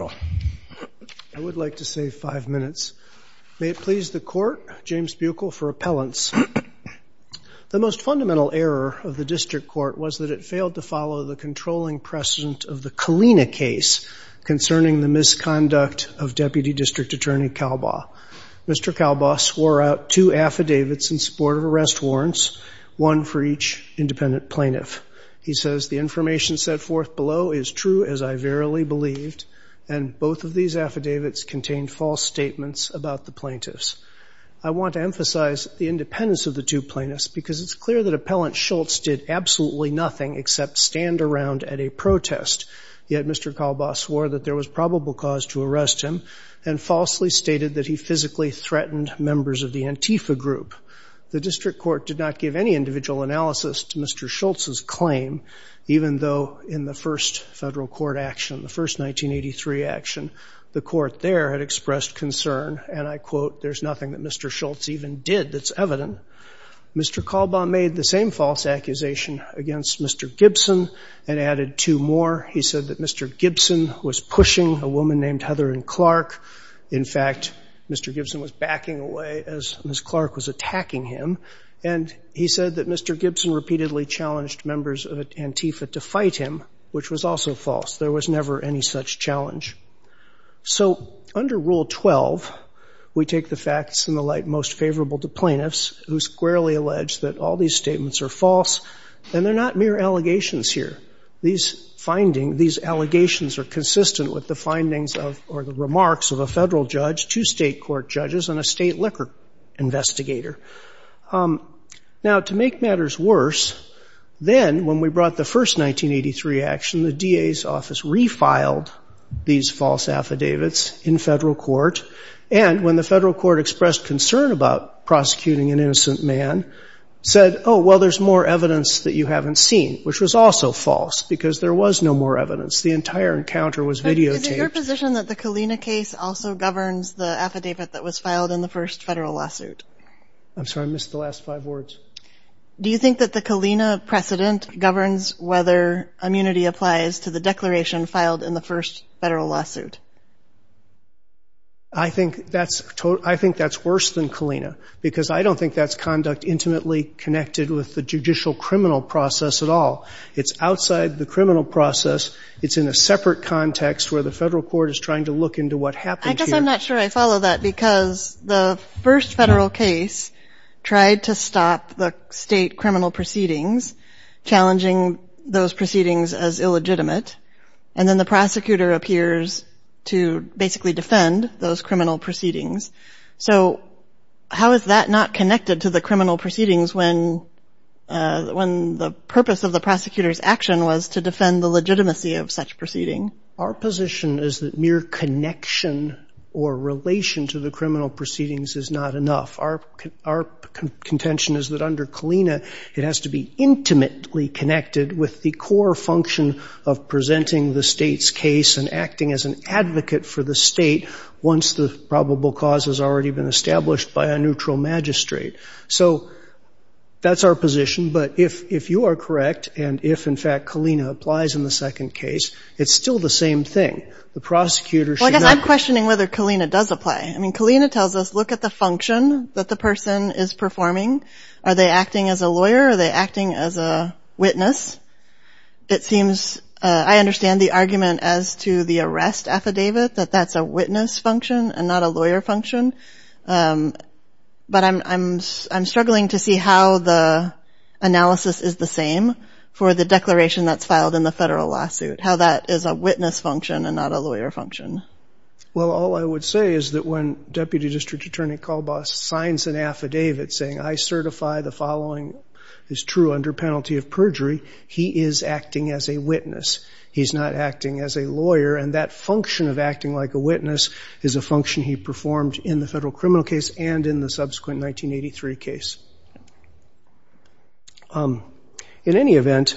I would like to save five minutes. May it please the court, James Buechel for appellants. The most fundamental error of the district court was that it failed to follow the controlling precedent of the Kalina case concerning the misconduct of Deputy District Attorney Kalbaugh. Mr. Kalbaugh swore out two affidavits in support of arrest warrants, one for each independent plaintiff. He and both of these affidavits contained false statements about the plaintiffs. I want to emphasize the independence of the two plaintiffs because it's clear that Appellant Schultz did absolutely nothing except stand around at a protest. Yet Mr. Kalbaugh swore that there was probable cause to arrest him and falsely stated that he physically threatened members of the Antifa group. The district court did not give any individual analysis to Mr. Schultz's claim even though in the first federal court action, the first 1983 action, the court there had expressed concern and I quote, there's nothing that Mr. Schultz even did that's evident. Mr. Kalbaugh made the same false accusation against Mr. Gibson and added two more. He said that Mr. Gibson was pushing a woman named Heather and Clark. In fact, Mr. Gibson was backing away as Miss Clark was attacking him and he said that Mr. Gibson repeatedly challenged members of Antifa to fight him, which was also false. There was never any such challenge. So under Rule 12, we take the facts in the light most favorable to plaintiffs who squarely allege that all these statements are false and they're not mere allegations here. These finding, these allegations are consistent with the findings of or the remarks of a federal judge, two state court judges, and a state liquor investigator. Now to make matters worse, then when we brought the first 1983 action, the DA's office refiled these false affidavits in federal court and when the federal court expressed concern about prosecuting an innocent man said, oh, well, there's more evidence that you haven't seen, which was also false because there was no more evidence. The entire encounter was videotaped. Is it your position that the Kalina case also governs the affidavit that was filed in the first federal lawsuit? I'm sorry, I missed the last five words. Do you think that the Kalina precedent governs whether immunity applies to the declaration filed in the first federal lawsuit? I think that's worse than Kalina because I don't think that's conduct intimately connected with the judicial criminal process at all. It's outside the criminal process. It's in a separate context where the federal court is trying to look into what happened. I guess I'm not sure I follow that because the first federal case tried to stop the state criminal proceedings, challenging those proceedings as illegitimate, and then the prosecutor appears to basically defend those criminal proceedings. So how is that not connected to the criminal proceedings when the purpose of the prosecutor's action was to defend the legitimacy of proceedings? Our position is that mere connection or relation to the criminal proceedings is not enough. Our contention is that under Kalina it has to be intimately connected with the core function of presenting the state's case and acting as an advocate for the state once the probable cause has already been established by a neutral magistrate. So that's our position, but if you are correct, and if in fact Kalina applies in the second case, it's still the same thing. The prosecutor should not be. I guess I'm questioning whether Kalina does apply. I mean Kalina tells us look at the function that the person is performing. Are they acting as a lawyer? Are they acting as a witness? It seems I understand the argument as to the arrest affidavit that that's a witness function and not a lawyer function, but I'm struggling to see how the analysis is the same for the declaration that's filed in the federal lawsuit, how that is a witness function and not a lawyer function. Well all I would say is that when Deputy District Attorney Kalbaugh signs an affidavit saying I certify the following is true under penalty of perjury, he is acting as a witness. He's not acting as a lawyer and that function of acting like a witness is a function he performed in the federal criminal case and in the subsequent 1983 case. In any event,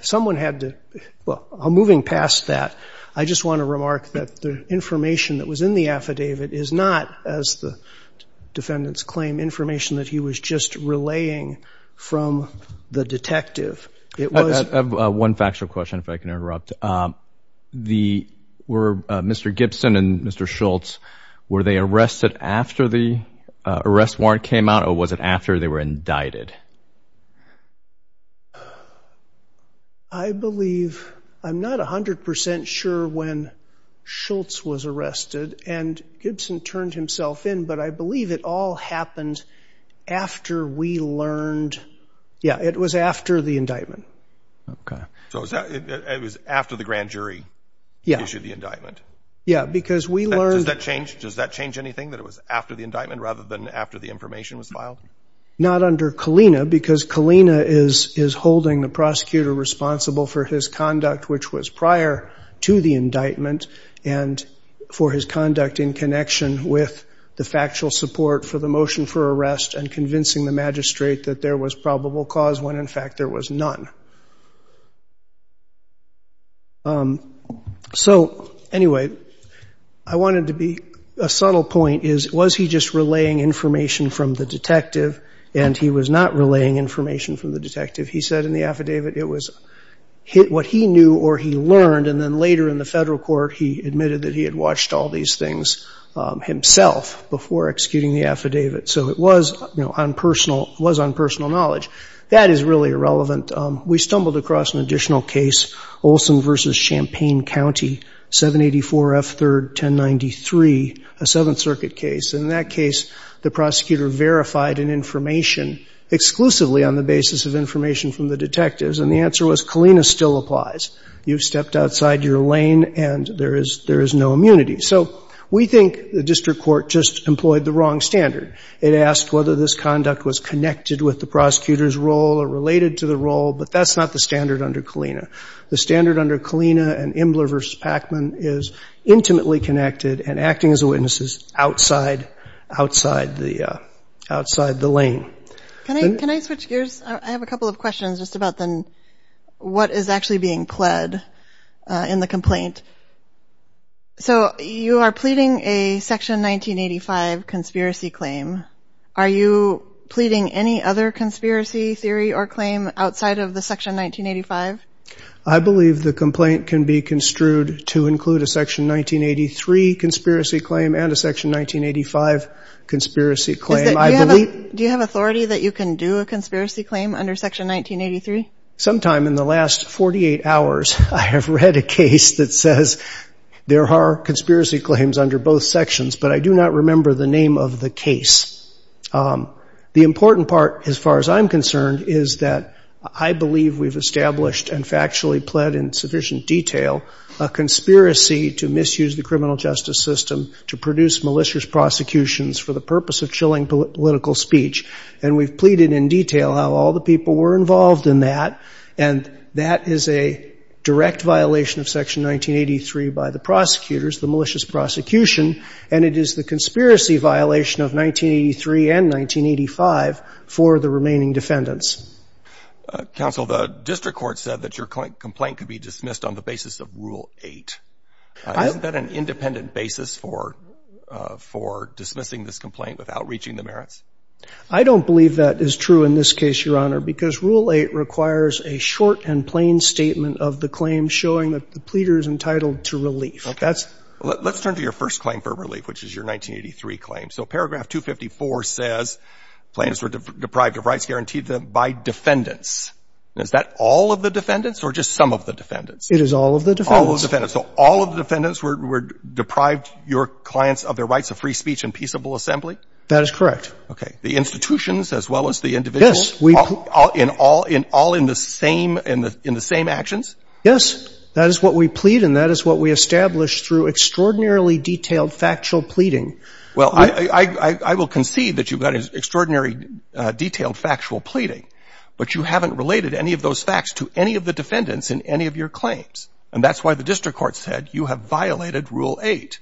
someone had to, well I'm moving past that, I just want to remark that the information that was in the affidavit is not, as the defendants claim, information that he was just relaying from the detective. I have one factual question if I can interrupt. The, were Mr. Gibson and Mr. Schultz, were they arrested after the arrest warrant came out or was it after they were indicted? I believe, I'm not a hundred percent sure when Schultz was arrested and Gibson turned himself in, but I believe it all happened after we learned, yeah it was after the indictment. Okay, so it was after the grand jury issued the indictment. Yeah, because we learned. Does that change, does that change anything that it was after the indictment rather than after the information was filed? Not under Kalina because Kalina is holding the prosecutor responsible for his conduct which was prior to the indictment and for his conduct in connection with the factual support for the motion for arrest and convincing the magistrate that there was probable cause when in fact there was none. So anyway, I wanted to be, a subtle point is, was he just relaying information from the detective and he was not relaying information from the detective? He said in the affidavit it was what he knew or he learned and then later in the federal court he admitted that he had watched all these things himself before executing the affidavit. So it was, you know, on personal, was on personal knowledge. That is really irrelevant. We stumbled across an additional case, Olson versus Champaign County, 784 F 3rd 1093, a Seventh Circuit case. In that case, the prosecutor verified an information exclusively on the basis of information from the detectives and the answer was Kalina still applies. You've stepped outside your lane and there is, there is no immunity. So we think the district court just employed the wrong standard. It asked whether this conduct was connected with the prosecutor's role or related to the role, but that's not the standard under Kalina. The standard under Kalina and Imler versus Pacman is intimately connected and acting as a witness is outside, outside the, outside the lane. Can I switch gears? I have a couple of questions just about then what is actually being pled in the complaint. So you are pleading a section 1985 conspiracy claim. Are you pleading any other conspiracy theory or claim outside of the section 1985? I believe the complaint can be construed to include a section 1983 conspiracy claim and a section 1985 conspiracy claim. Do you have authority that you can do a conspiracy claim under section 1983? Sometime in the last 48 hours I have read a case that says there are conspiracy claims under both sections, but I do not remember the name of the case. The important part as far as I'm concerned is that I believe we've established and factually pled in sufficient detail a conspiracy to misuse the criminal justice system to produce malicious prosecutions for the purpose of chilling political speech and we've pleaded in detail how all the people were involved in that and that is a direct violation of section 1983 by the prosecutors, the malicious prosecution, and it is the conspiracy violation of 1983 and 1985 for the remaining defendants. Counsel, the district court said that your complaint could be dismissed on the basis of Rule 8. Isn't that an independent basis for, for dismissing this complaint without reaching the merits? I don't believe that is true in this case, Your Honor, because Rule 8 requires a short and plain statement of the claim showing that the pleader is entitled to relief. Okay. Let's, let's turn to your first claim for relief, which is your 1983 claim. So paragraph 254 says plaintiffs were deprived of rights guaranteed by defendants. Is that all of the defendants or just some of the defendants? It is all of the defendants. All of the defendants. So all of the defendants were, were deprived, your clients of their rights of free speech and peaceable assembly? That is correct. Okay. The institutions as well as the individual. Yes. In all, in all in the same, in the, in the same actions? Yes. That is what we plead and that is what we establish through extraordinarily detailed factual pleading. Well, I, I, I, I will concede that you've got an extraordinary detailed factual pleading, but you haven't related any of those facts to any of the defendants in any of your claims. And that's why the district court said you have violated Rule 8.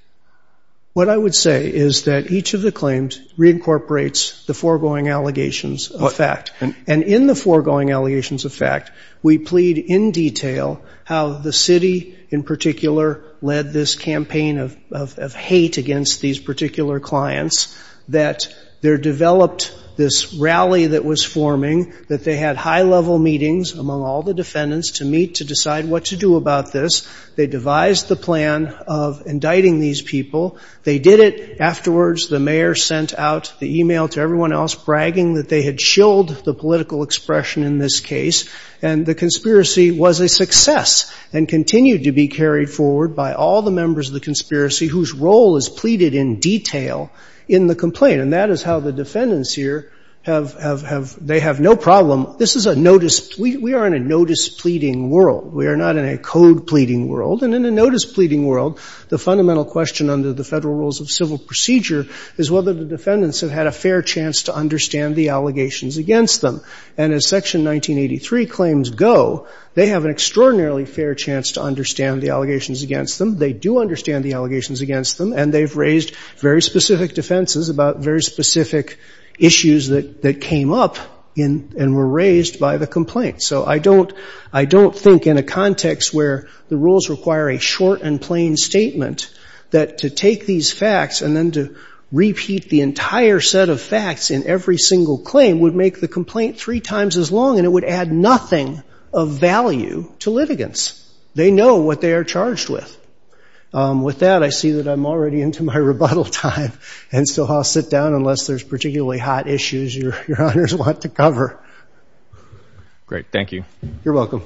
What I would say is that each of the claims reincorporates the foregoing allegations of fact. And in the foregoing allegations of fact, we plead in detail how the city in particular led this campaign of, of, of hate against these particular clients. That there developed this rally that was forming, that they had high level meetings among all the defendants to meet, to decide what to do about this. They devised the plan of indicting these people. They did it. Afterwards, the mayor sent out the email to everyone else bragging that they had chilled the political expression in this case. And the conspiracy was a success and continued to be carried forward by all the members of the conspiracy whose role is pleaded in detail in the complaint. And that is how the defendants here have, have, have, they have no problem. This is a notice, we, we are in a notice pleading world. We are not in a code pleading world. And in a notice pleading world, the fundamental question under the federal rules of civil procedure is whether the defendants have had a fair chance to understand the allegations against them. And as section 1983 claims go, they have an extraordinarily fair chance to understand the allegations against them. They do understand the allegations against them. And they've raised very specific defenses about very specific issues that, that came up in, and were raised by the complaint. So I don't, I don't think in a context where the rules require a short and plain statement, that to take these facts and then to repeat the entire set of facts in every single claim would make the complaint three times as long and it would add nothing of value to litigants. They know what they are charged with. With that, I see that I'm already into my rebuttal time. And so I'll sit down unless there's particularly hot issues your, your honors want to cover. Great. Thank you. You're welcome.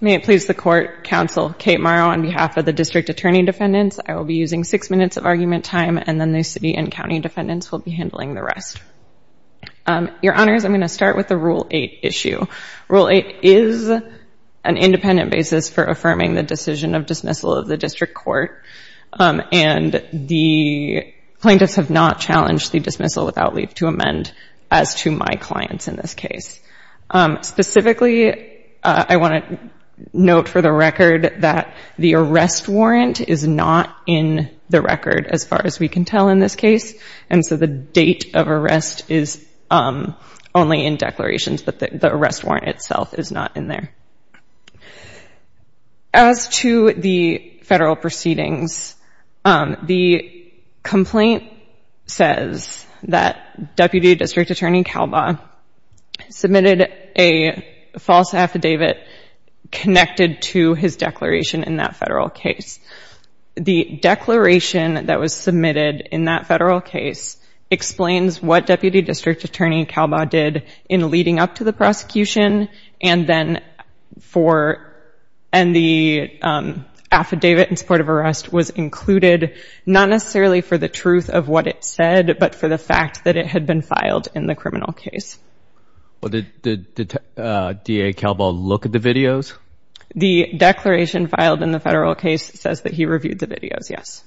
May it please the court, counsel Kate Morrow on behalf of the district attorney defendants, I will be using six minutes of argument time and then the city and county defendants will be handling the rest. Your honors, I'm going to start with the rule eight issue. Rule eight is an independent basis for affirming the decision of dismissal of the district court. And the plaintiffs have not challenged the dismissal without leave to amend as to my clients in this case. Specifically, I want to note for the record that the arrest warrant is not in the record as far as we can tell in this case. And so date of arrest is only in declarations, but the arrest warrant itself is not in there. As to the federal proceedings, the complaint says that Deputy District Attorney Kalbaugh submitted a false affidavit connected to his declaration in that federal case. The declaration that was submitted in that federal case explains what Deputy District Attorney Kalbaugh did in leading up to the prosecution. And then for, and the affidavit in support of arrest was included, not necessarily for the truth of what it said, but for the fact that it had been filed in the criminal case. Well, did the DA Kalbaugh look at the videos? The declaration filed in the federal case says that he reviewed the videos, yes.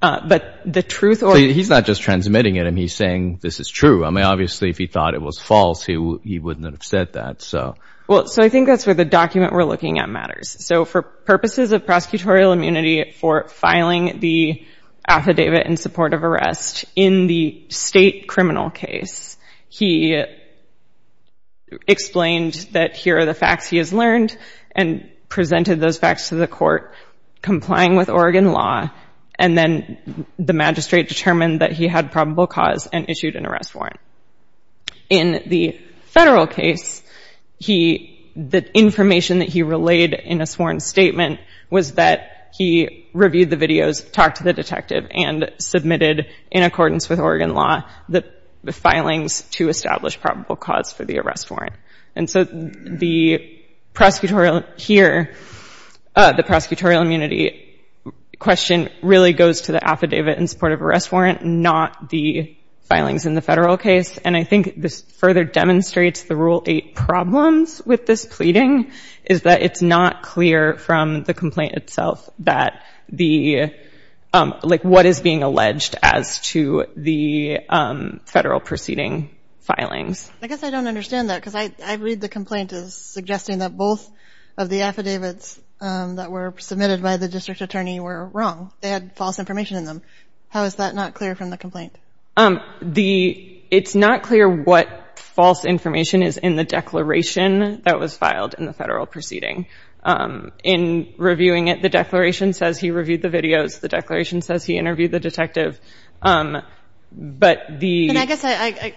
But the truth or... He's not just transmitting it and he's saying this is true. I mean, obviously if he thought it was false, he wouldn't have said that, so. Well, so I think that's where the document we're looking at matters. So for purposes of prosecutorial immunity for filing the affidavit in support of arrest in the state criminal case, he explained that here are the facts he has learned and presented those facts to the court, complying with Oregon law, and then the magistrate determined that he had probable cause and issued an arrest warrant. In the federal case, he, the information that he relayed in a sworn statement was that he reviewed the videos, talked to the detective, and submitted, in accordance with Oregon law, the filings to establish probable cause for the arrest warrant. And so the prosecutorial here, the prosecutorial immunity question really goes to the affidavit in support of arrest warrant, not the filings in the federal case. And I think this further demonstrates the Rule 8 problems with this pleading, is that it's not clear from the complaint itself that the, like, what is being alleged as to the federal proceeding filings. I guess I don't understand that, because I read the complaint as suggesting that both of the affidavits that were submitted by the district attorney were wrong, they had false information in them. How is that not clear from the complaint? It's not clear what false information is in the declaration that was filed in the federal proceeding. In reviewing it, the declaration says he reviewed the videos, the declaration says he interviewed the detective, but the... And I guess I,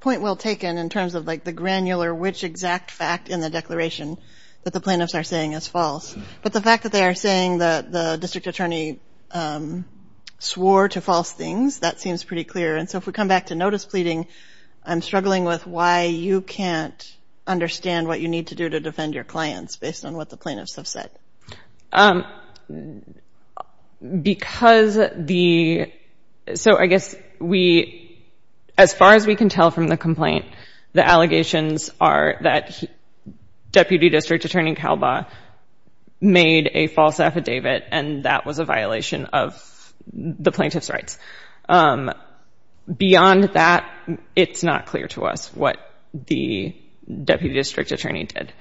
point well taken in terms of, like, the granular which exact fact in the declaration that the plaintiffs are saying is false, but the fact that they are saying that the district attorney swore to false things, that seems pretty clear. And so if we come back to notice pleading, I'm struggling with why you can't understand what you need to do to defend your clients based on what the plaintiffs have said. Because the... So I guess we, as far as we can tell from the complaint, the allegations are that Deputy District Attorney Kalbaugh made a false affidavit and that was a violation of the plaintiff's rights. Beyond that, it's not clear to us what the Deputy District Attorney did.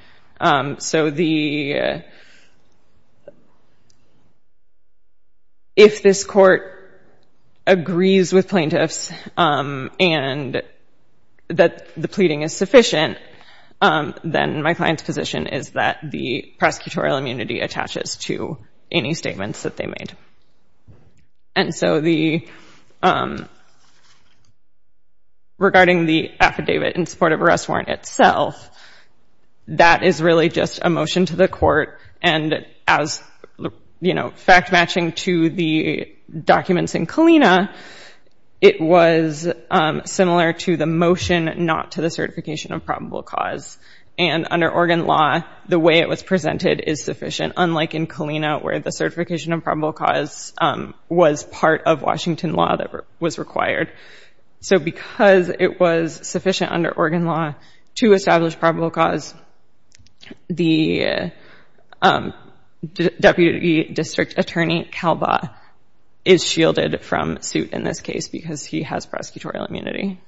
So the... If this court agrees with plaintiffs and that the pleading is sufficient, then my client's position is that the prosecutorial immunity attaches to any statements that they made. And so the... Regarding the affidavit in support of arrest warrant itself, that is really just a motion to the court and as, you know, fact matching to the documents in Kalina, it was similar to the motion not to the certification of probable cause. And under Oregon law, the way it was presented is sufficient, unlike in Kalina, where the certification of probable cause was part of Washington law that was required. So because it was sufficient under Oregon law to establish probable cause, the Deputy District Attorney Kalbaugh is shielded from suit in this case because he has prosecutorial immunity.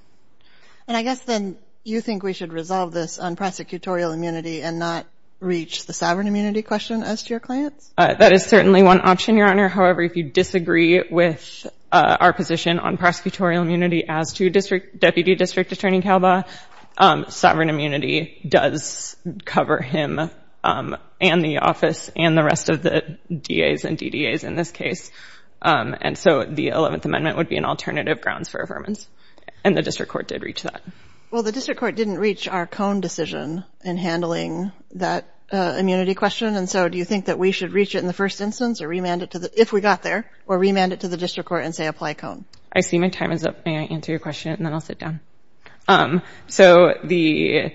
And I guess then you think we should resolve this on prosecutorial immunity and not reach the sovereign immunity question as to your clients? That is certainly one option, Your Honor. However, if you disagree with our position on prosecutorial immunity as to Deputy District Attorney Kalbaugh, sovereign immunity does cover him and the office and the rest of the DAs and DDAs in this case. And so the 11th Amendment would be an alternative grounds for affirmance. And the district court did reach that. Well, the district court didn't reach our Cone decision in handling that immunity question. And so do you think that we should reach it in the first instance or remand it to the, if we got there, or remand it to the district court and say apply Cone? I see my time is up. May I answer your question and then I'll sit down? So the,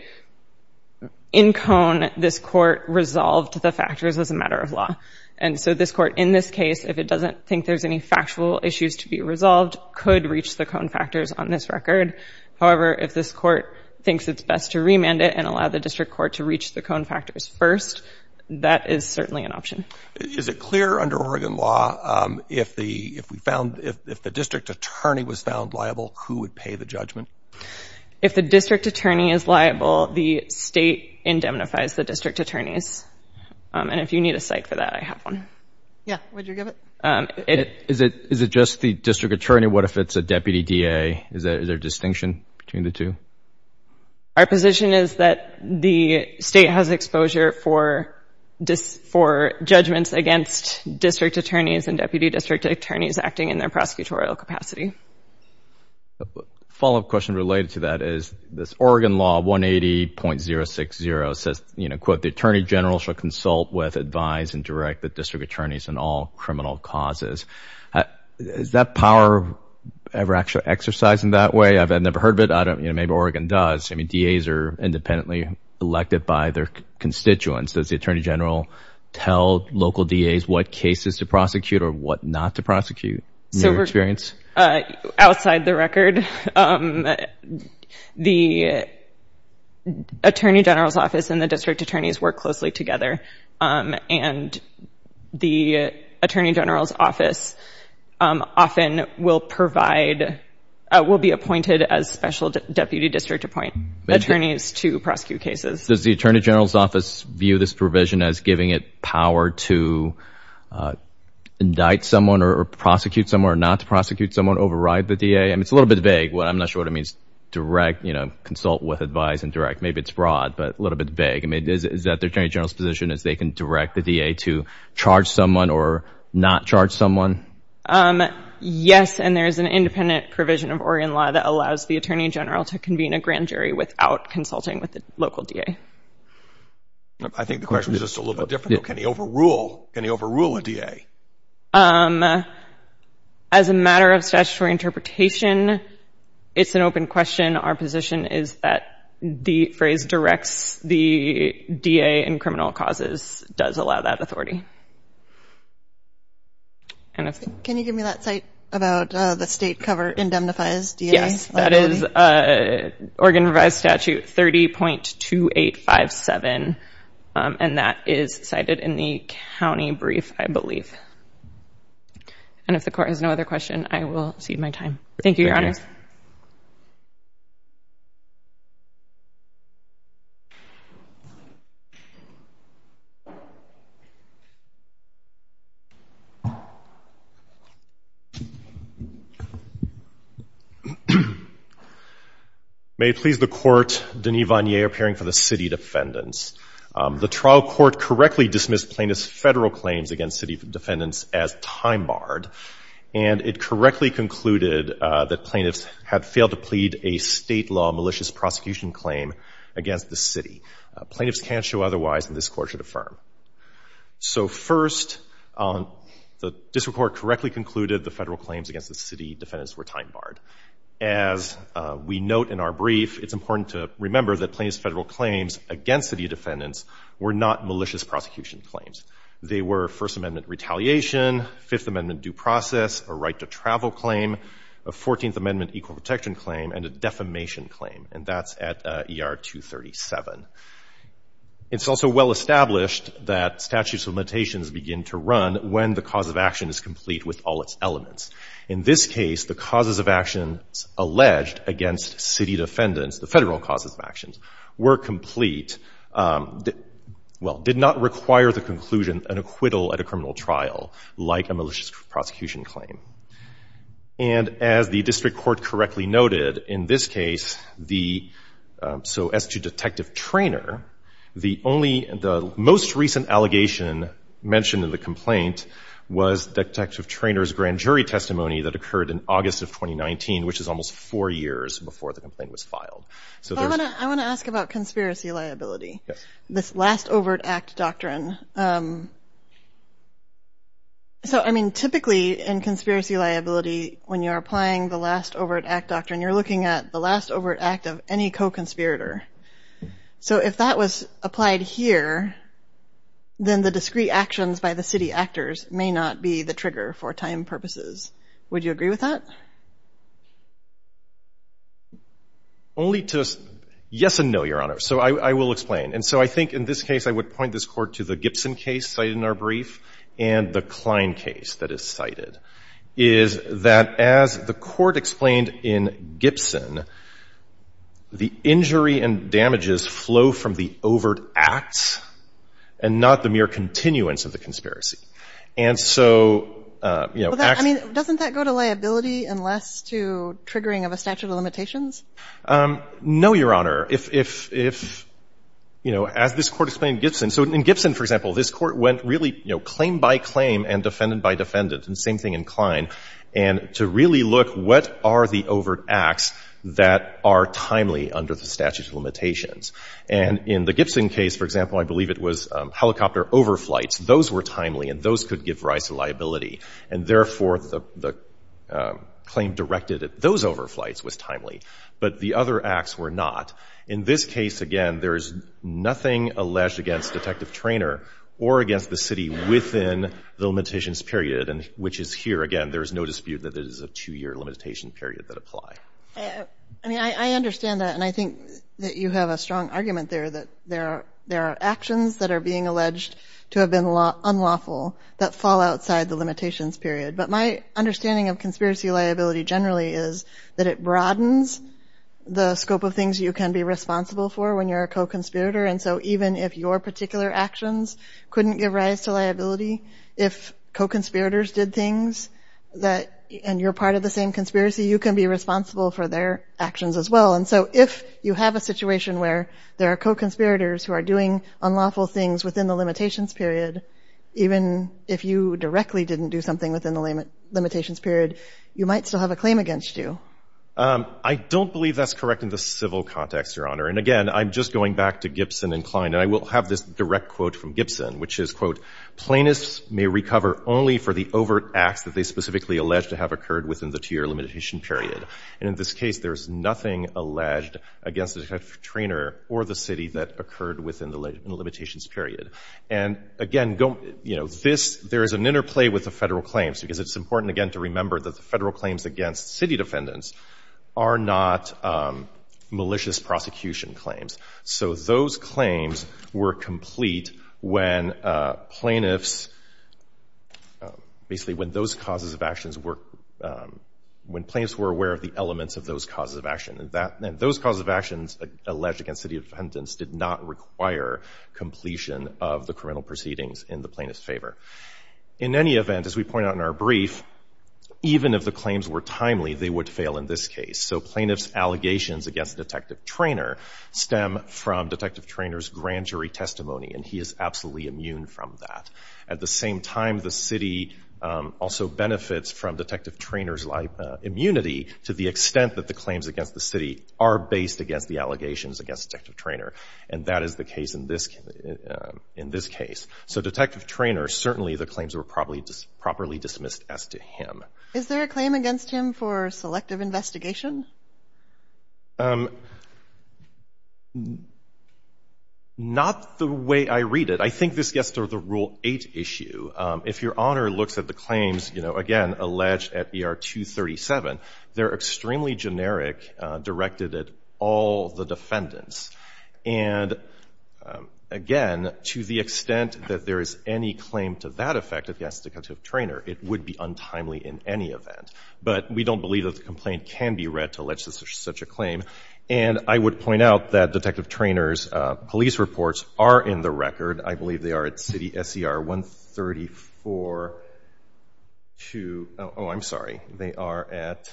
in Cone, this court resolved the factors as a matter of law. And so this court in this case, if it doesn't think there's any factual issues to be resolved, could reach the Cone factors on this record. However, if this court thinks it's best to remand it and allow the district court to reach the Cone factors first, that is certainly an option. Is it clear under Oregon law, if the, if we found, if the district attorney was found liable, who would pay the judgment? If the district attorney is liable, the state indemnifies the district attorneys. And if you need a cite for that, I have one. Yeah. Would you give it? Is it, is it just the district attorney? What if it's a deputy DA? Is there a distinction between the two? Our position is that the state has exposure for dis, for judgments against district attorneys and deputy district attorneys acting in their prosecutorial capacity. A follow-up question related to that is this Oregon law 180.060 says, you know, quote, the attorney general shall consult with, advise, and direct the district attorney on criminal causes. Is that power ever actually exercised in that way? I've never heard of it. I don't, you know, maybe Oregon does. I mean, DAs are independently elected by their constituents. Does the attorney general tell local DAs what cases to prosecute or what not to prosecute? So we're, outside the record, the attorney general's office and the district attorneys work closely together. And the attorney general's office often will provide, will be appointed as special deputy district appoint attorneys to prosecute cases. Does the attorney general's office view this provision as giving it power to indict someone or prosecute someone or not to prosecute someone, override the DA? I mean, it's a little bit vague. I'm not sure what it means, direct, you know, consult with, advise, and direct. Maybe it's broad, but a little bit vague. I mean, is that the attorney general's position is they can direct the DA to charge someone or not charge someone? Yes. And there is an independent provision of Oregon law that allows the attorney general to convene a grand jury without consulting with the local DA. I think the question is just a little bit different. Can he overrule, can he overrule a DA? As a matter of statutory interpretation, it's an open question. Our position is that the phrase directs the DA in criminal causes does allow that authority. Can you give me that site about the state cover indemnifies DA? Yes, that is Oregon revised statute 30.2857. And that is cited in the county brief, I believe. And if the court has no other question, I will cede my time. Thank you, Your Honor. May it please the court, Denis Vanier appearing for the city defendants. The trial court correctly dismissed plaintiff's federal claims against city defendants as time-barred. And it correctly concluded that plaintiffs had failed to plead a state law malicious prosecution claim against the city. Plaintiffs can't show otherwise, and this court should affirm. So first, the district court correctly concluded the federal claims against the city defendants were time-barred. As we note in our brief, it's important to remember that plaintiff's federal claims against city defendants were not malicious prosecution claims. They were First Amendment retaliation, Fifth Amendment due process, a right to travel claim, a Fourteenth Amendment equal protection claim, and a defamation claim. And that's at ER 237. It's also well established that statutes of limitations begin to run when the cause of action is complete with all its elements. In this case, the causes of actions alleged against city defendants, the federal causes of actions, were complete. It, well, did not require the conclusion and acquittal at a criminal trial like a malicious prosecution claim. And as the district court correctly noted in this case, the, so as to Detective Traynor, the only, the most recent allegation mentioned in the complaint was Detective Traynor's grand jury testimony that occurred in August of 2019, which is almost four years before the complaint was filed. So I want to ask about conspiracy liability, this last overt act doctrine. So, I mean, typically in conspiracy liability, when you're applying the last overt act doctrine, you're looking at the last overt act of any co-conspirator. So if that was applied here, then the discrete actions by the city actors may not be the trigger for time purposes. Would you agree with that? Only to, yes and no, Your Honor. So I will explain. And so I think in this case, I would point this court to the Gibson case cited in our brief and the Klein case that is cited, is that as the court explained in Gibson, the injury and damages flow from the overt acts and not the mere continuance of the conspiracy. And so, you know, doesn't that go to liability unless to triggering of a statute of limitations? No, Your Honor. If, you know, as this court explained in Gibson, so in Gibson, for example, this court went really, you know, claim by claim and defendant by defendant, and same thing in Klein, and to really look what are the overt acts that are timely under the statute of limitations. And in the Gibson case, for example, I believe it was helicopter overflights. Those were timely and those could give rise to liability. And therefore, the claim directed at those overflights was timely, but the other acts were not. In this case, again, there is nothing alleged against Detective Traynor or against the city within the limitations period, which is here, again, there is no dispute that it is a two-year limitation period that apply. I mean, I understand that. And I think that you have a strong argument there that there are actions that are being alleged to have been unlawful that fall outside the limitations period. But my understanding of conspiracy liability generally is that it broadens the scope of things you can be responsible for when you're a co-conspirator. And so even if your particular actions couldn't give rise to liability, if co-conspirators did things that, and you're part of the same conspiracy, you can be responsible for their actions as well. And so if you have a situation where there are co-conspirators who are doing unlawful things within the limitations period, even if you directly didn't do something within the limitations period, you might still have a claim against you. I don't believe that's correct in the civil context, Your Honor. And again, I'm just going back to Gibson and Klein. And I will have this direct quote from Gibson, which is, quote, Plaintiffs may recover only for the overt acts that they specifically alleged to have occurred within the two-year limitation period. And in this case, there's nothing alleged against the detective trainer or the city that occurred within the limitations period. And again, there is an interplay with the federal claims, because it's important, again, to remember that the federal claims against city defendants are not malicious prosecution claims. So those claims were complete when plaintiffs, basically, when those causes of actions were, when plaintiffs were aware of the elements of those causes of action. And those causes of actions alleged against city defendants did not require completion of the criminal proceedings in the plaintiff's favor. In any event, as we point out in our brief, even if the claims were timely, they would fail in this case. So plaintiff's allegations against detective trainer stem from detective trainer's grand testimony, and he is absolutely immune from that. At the same time, the city also benefits from detective trainer's immunity to the extent that the claims against the city are based against the allegations against detective trainer. And that is the case in this case. So detective trainer, certainly the claims were properly dismissed as to him. Is there a claim against him for selective investigation? Not the way I read it. I think this gets to the Rule 8 issue. If your Honor looks at the claims, you know, again, alleged at ER 237, they're extremely generic, directed at all the defendants. And, again, to the extent that there is any claim to that effect against the detective trainer, it would be untimely in any event. But we don't believe that the complaint can be readily read to allege such a claim. And I would point out that detective trainer's police reports are in the record. I believe they are at city SCR 134 to, oh, I'm sorry, they are at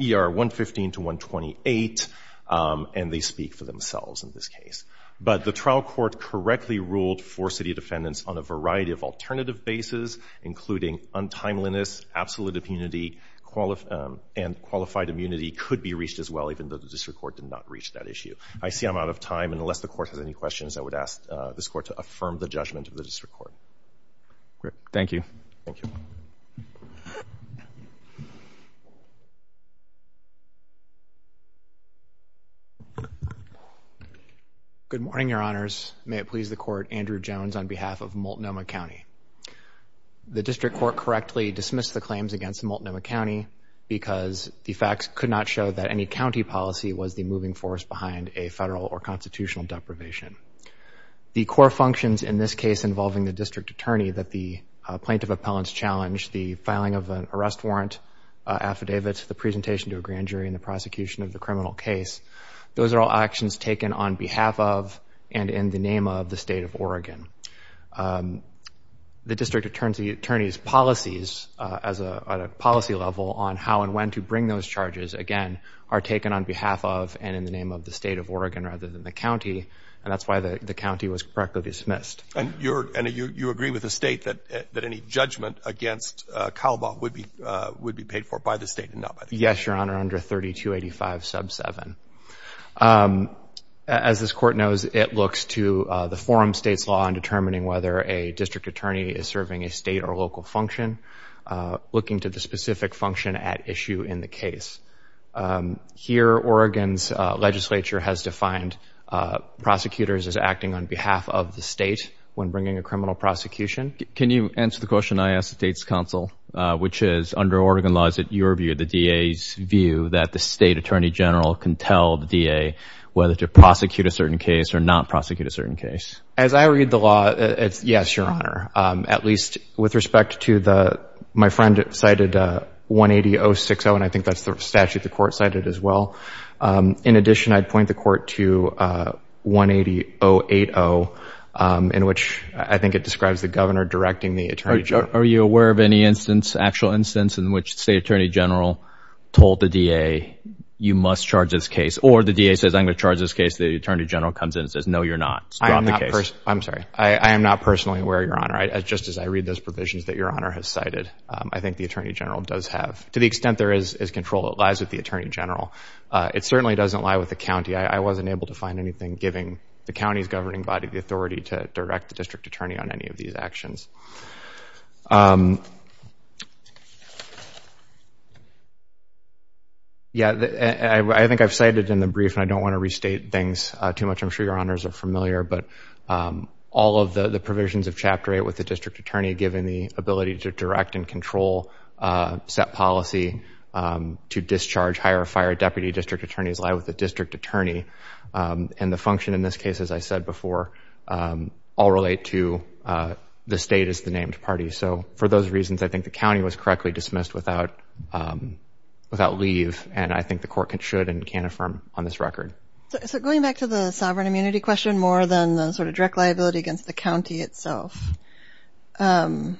ER 115 to 128, and they speak for themselves in this case. But the trial court correctly ruled for city defendants on a variety of alternative bases, including untimeliness, absolute immunity, and qualified immunity could be reached as well, even though the district court did not reach that issue. I see I'm out of time. And unless the court has any questions, I would ask this court to affirm the judgment of the district court. Great. Thank you. Thank you. Good morning, Your Honors. May it please the court, Andrew Jones on behalf of Multnomah County. The district court correctly dismissed the claims against Multnomah County because the facts could not show that any county policy was the moving force behind a federal or constitutional deprivation. The core functions in this case involving the district attorney that the plaintiff appellants challenged, the filing of an arrest warrant affidavit, the presentation to a grand jury, and the prosecution of the criminal case, those are all actions taken on behalf of and in the name of the state of Oregon. The district attorney's policies at a policy level on how and when to bring those charges, again, are taken on behalf of and in the name of the state of Oregon rather than the county. And that's why the county was correctly dismissed. And you agree with the state that any judgment against Calabar would be paid for by the state and not by the county? Yes, Your Honor, under 3285 sub 7. As this court knows, it looks to the forum states law in determining whether a district attorney is serving a state or local function, looking to the specific function at issue in the case. Here, Oregon's legislature has defined prosecutors as acting on behalf of the state when bringing a criminal prosecution. Can you answer the question I asked the state's which is, under Oregon laws, is it your view, the DA's view, that the state attorney general can tell the DA whether to prosecute a certain case or not prosecute a certain case? As I read the law, yes, Your Honor, at least with respect to the, my friend cited 180-060, and I think that's the statute the court cited as well. In addition, I'd point the court to 180-080, in which I think it describes the governor directing the attorney general. Are you aware of any instance, actual instance, in which the state attorney general told the DA, you must charge this case, or the DA says, I'm going to charge this case, the attorney general comes in and says, no, you're not. I'm sorry, I am not personally aware, Your Honor, just as I read those provisions that Your Honor has cited. I think the attorney general does have, to the extent there is control, it lies with the attorney general. It certainly doesn't lie with the county. I wasn't able to find anything giving the county's governing body the authority to direct the district attorney on any of these actions. Yeah, I think I've cited in the brief, and I don't want to restate things too much. I'm sure Your Honors are familiar, but all of the provisions of Chapter 8 with the district attorney given the ability to direct and control set policy to discharge, hire, or fire a deputy district attorney, lie with the district attorney. And the function in this case, as I said before, all relate to the state as the named party. So for those reasons, I think the county was correctly dismissed without leave, and I think the court should and can affirm on this record. So going back to the sovereign immunity question, more than the sort of direct liability against the county itself, does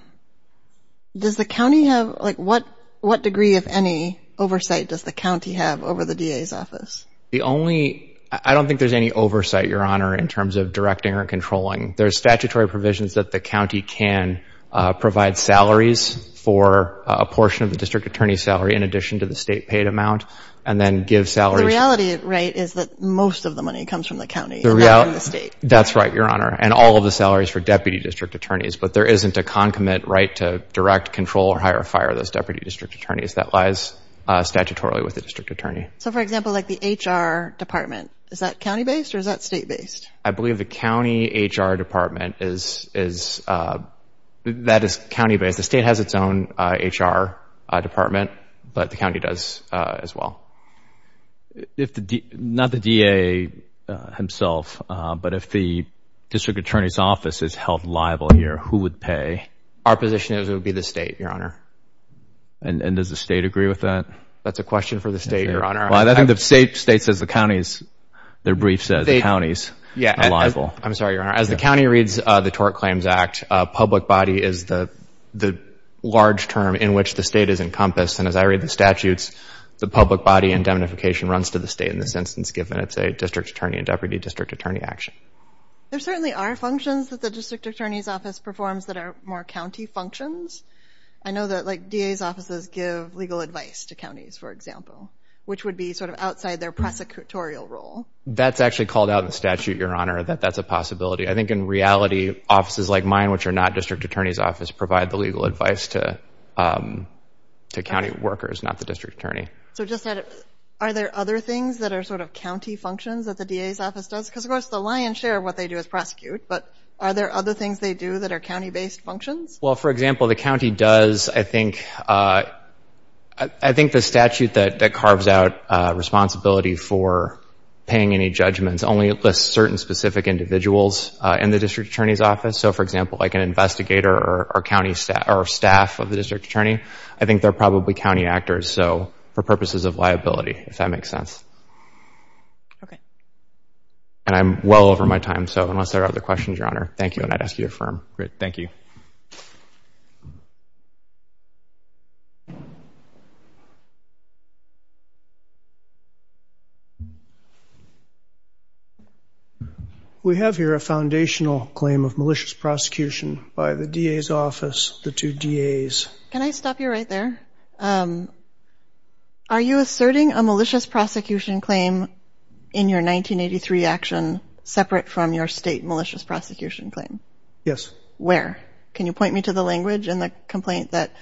the county have, like, what degree, if any, oversight does the county have over the DA's office? The only, I don't think there's any oversight, Your Honor, in terms of directing or controlling. There's statutory provisions that the county can provide salaries for a portion of the district attorney's salary in addition to the state paid amount, and then give salaries. The reality, right, is that most of the money comes from the county, and not from the state. That's right, Your Honor, and all of the salaries for deputy district attorneys, but there isn't a concomitant right to direct, control, or hire, or fire those deputy district attorneys. That lies statutorily with the district attorney. So for example, like the HR department, is that county-based or is that state-based? I believe the county HR department is, that is county-based. The state has its own HR department, but the county does as well. If the, not the DA himself, but if the district attorney's office is held liable here, who would pay? Our position is it would be the state, Your Honor. And does the state agree with that? That's a question for the state, Your Honor. I think the state says the county's, their brief says the county's liable. I'm sorry, Your Honor, as the county reads the Tort Claims Act, public body is the large term in which the state is encompassed, and as I read the statutes, the public body indemnification runs to the state in this instance, given it's a district attorney and deputy district attorney action. There certainly are functions that the district attorney's office performs that are more county functions. I know that like DA's offices give legal advice to counties, for example, which would be sort of outside their prosecutorial role. That's actually called out in the statute, Your Honor, that that's a possibility. I think in reality, offices like mine, which are not district attorney's office, provide the legal advice to county workers, not the district attorney. So just out of, are there other things that are sort of county functions that the DA's office does? Because of course the lion's share of what they do is prosecute, but are there other things they do that are county-based functions? Well, for example, the county does, I think, I think the statute that carves out responsibility for paying any judgments only lists certain specific individuals in the district attorney's office. So for example, like an investigator or county staff or staff of the district attorney, I think they're probably county actors, so for purposes of liability, if that makes sense. Okay. And I'm well over my time, so unless there are other questions, Your Honor, thank you, and I'd ask you to affirm. Great. Thank you. We have here a foundational claim of malicious prosecution by the DA's office, the two DA's. Can I stop you right there? Are you asserting a malicious prosecution claim in your 1983 action separate from your state malicious prosecution claim? Yes. Where? Can you point me to the language in the complaint that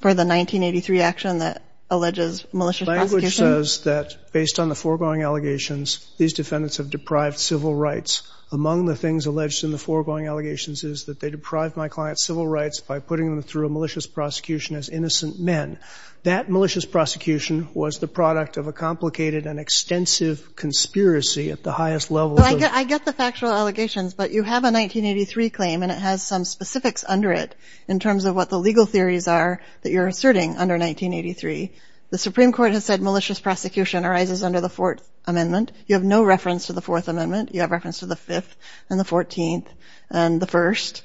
for the 1983 action that alleges malicious prosecution? The language says that based on the foregoing allegations, these defendants have deprived civil rights. Among the things alleged in the foregoing allegations is that they deprived my client's civil rights by putting them through a malicious prosecution as innocent men. That malicious prosecution was the product of a complicated and extensive conspiracy at the highest level. I get the factual allegations, but you have a 1983 claim and it has some specifics under it in terms of what the legal theories are that you're asserting under 1983. The Supreme Court has said malicious prosecution arises under the Fourth Amendment. You have no reference to the Fourth Amendment. You have reference to the Fifth and the Fourteenth and the First.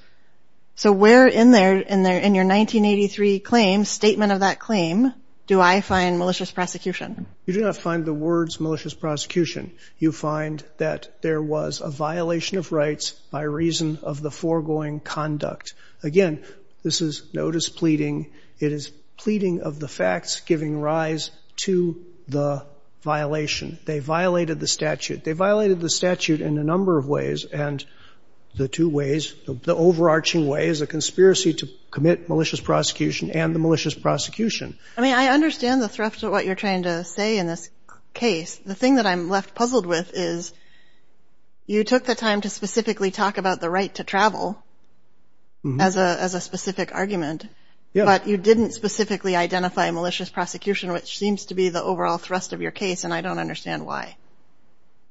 So where in there, in your 1983 claim, statement of that claim, do I find malicious prosecution? You do not find the words malicious prosecution. You find that there was a violation of rights by reason of the foregoing conduct. Again, this is notice pleading. It is pleading of the facts giving rise to the violation. They violated the statute. They violated the statute in a number of ways. And the two ways, the overarching way is a conspiracy to commit malicious prosecution and the malicious prosecution. I mean, I understand the thrust of what you're trying to say in this case. The thing that I'm left puzzled with is you took the time to specifically talk about the right to travel as a specific argument, but you didn't specifically identify malicious prosecution, which seems to be the overall thrust of your case. And I don't understand why.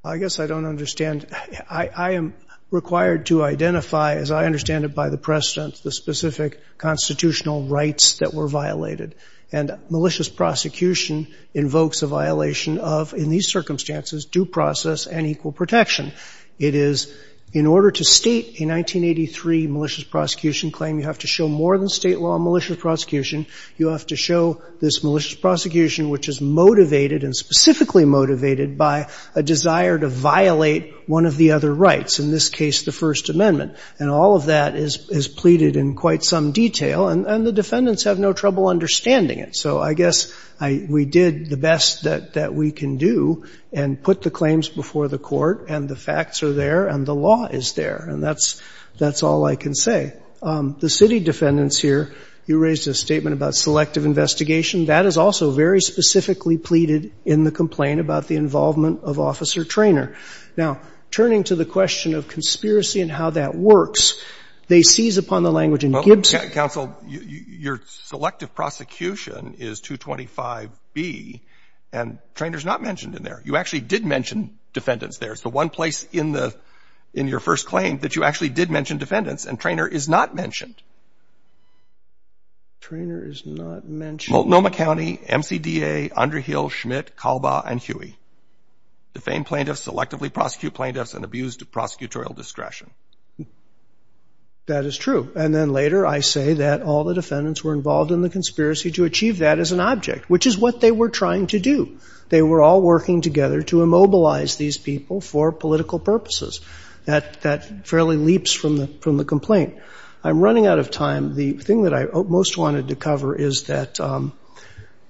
I guess I don't understand. I am required to identify, as I understand it by the precedent, the specific constitutional rights that were violated. And malicious prosecution invokes a violation of, in these circumstances, due process and equal protection. It is in order to state a 1983 malicious prosecution claim, you have to show more than state law malicious prosecution. You have to show this malicious prosecution, which is motivated and specifically motivated by a desire to violate one of the other rights, in this case, the First Amendment. And all of that is pleaded in quite some detail. And the defendants have no trouble understanding it. So I guess we did the best that we can do and put the claims before the court and the facts are there and the law is there. And that's all I can say. The city defendants here, you raised a about selective investigation. That is also very specifically pleaded in the complaint about the involvement of Officer Traynor. Now, turning to the question of conspiracy and how that works, they seize upon the language in Gibson. Counsel, your selective prosecution is 225B, and Traynor is not mentioned in there. You actually did mention defendants there. It's the one place in the — in your first claim that you actually did mention defendants, and Traynor is not mentioned. Traynor is not mentioned. Multnomah County, MCDA, Underhill, Schmidt, Calba, and Huey. Defend plaintiffs, selectively prosecute plaintiffs, and abuse the prosecutorial discretion. That is true. And then later, I say that all the defendants were involved in the conspiracy to achieve that as an object, which is what they were trying to do. They were all working together to immobilize these people for political purposes. That fairly leaps from the complaint. I'm running out of time. The thing that I most wanted to cover is that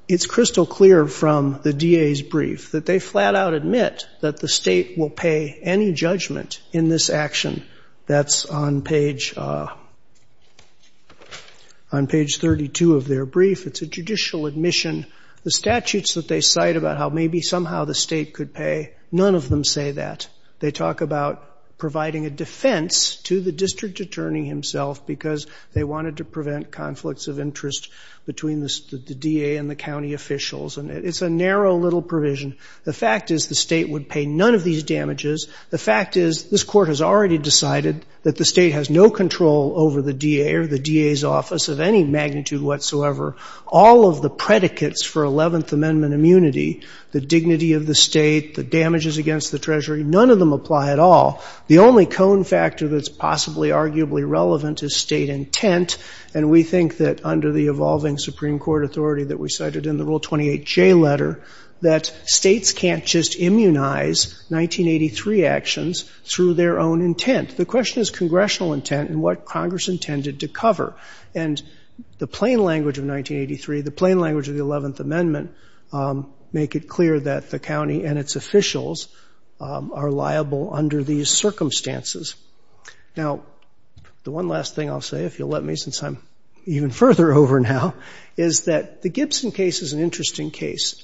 it's crystal clear from the DA's brief that they flat-out admit that the state will pay any judgment in this action. That's on page 32 of their brief. It's a judicial admission. The statutes that they cite about how maybe somehow the state could pay, none of them say that. They talk about providing a defense to the district attorney himself because they wanted to prevent conflicts of interest between the DA and the county officials. And it's a narrow little provision. The fact is the state would pay none of these damages. The fact is this Court has already decided that the state has no control over the DA or the DA's office of any magnitude whatsoever. All of the predicates for 11th Amendment damages against the Treasury, none of them apply at all. The only cone factor that's possibly arguably relevant is state intent. And we think that under the evolving Supreme Court authority that we cited in the Rule 28J letter, that states can't just immunize 1983 actions through their own intent. The question is congressional intent and what Congress intended to cover. And the plain language of 1983, the plain language of the Supreme Court, is that the state's officials are liable under these circumstances. Now, the one last thing I'll say, if you'll let me since I'm even further over now, is that the Gibson case is an interesting case.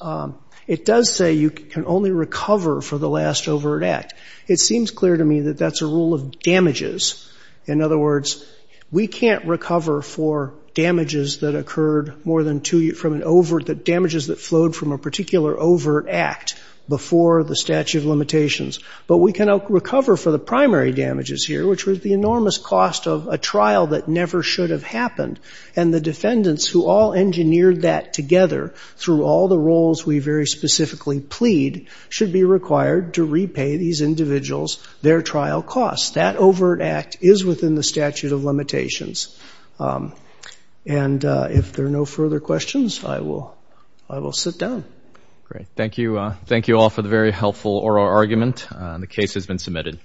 It does say you can only recover for the last overt act. It seems clear to me that that's a rule of damages. In other words, we can't recover for damages that occurred more than two years from an overt damages that flowed from a particular overt act before the statute of limitations. But we can recover for the primary damages here, which was the enormous cost of a trial that never should have happened. And the defendants who all engineered that together through all the roles we very specifically plead should be required to repay these individuals their trial costs. That overt act is within the statute of limitations. And if there are no further questions, I will sit down. Great. Thank you. Thank you all for the very helpful oral argument. The case has been submitted.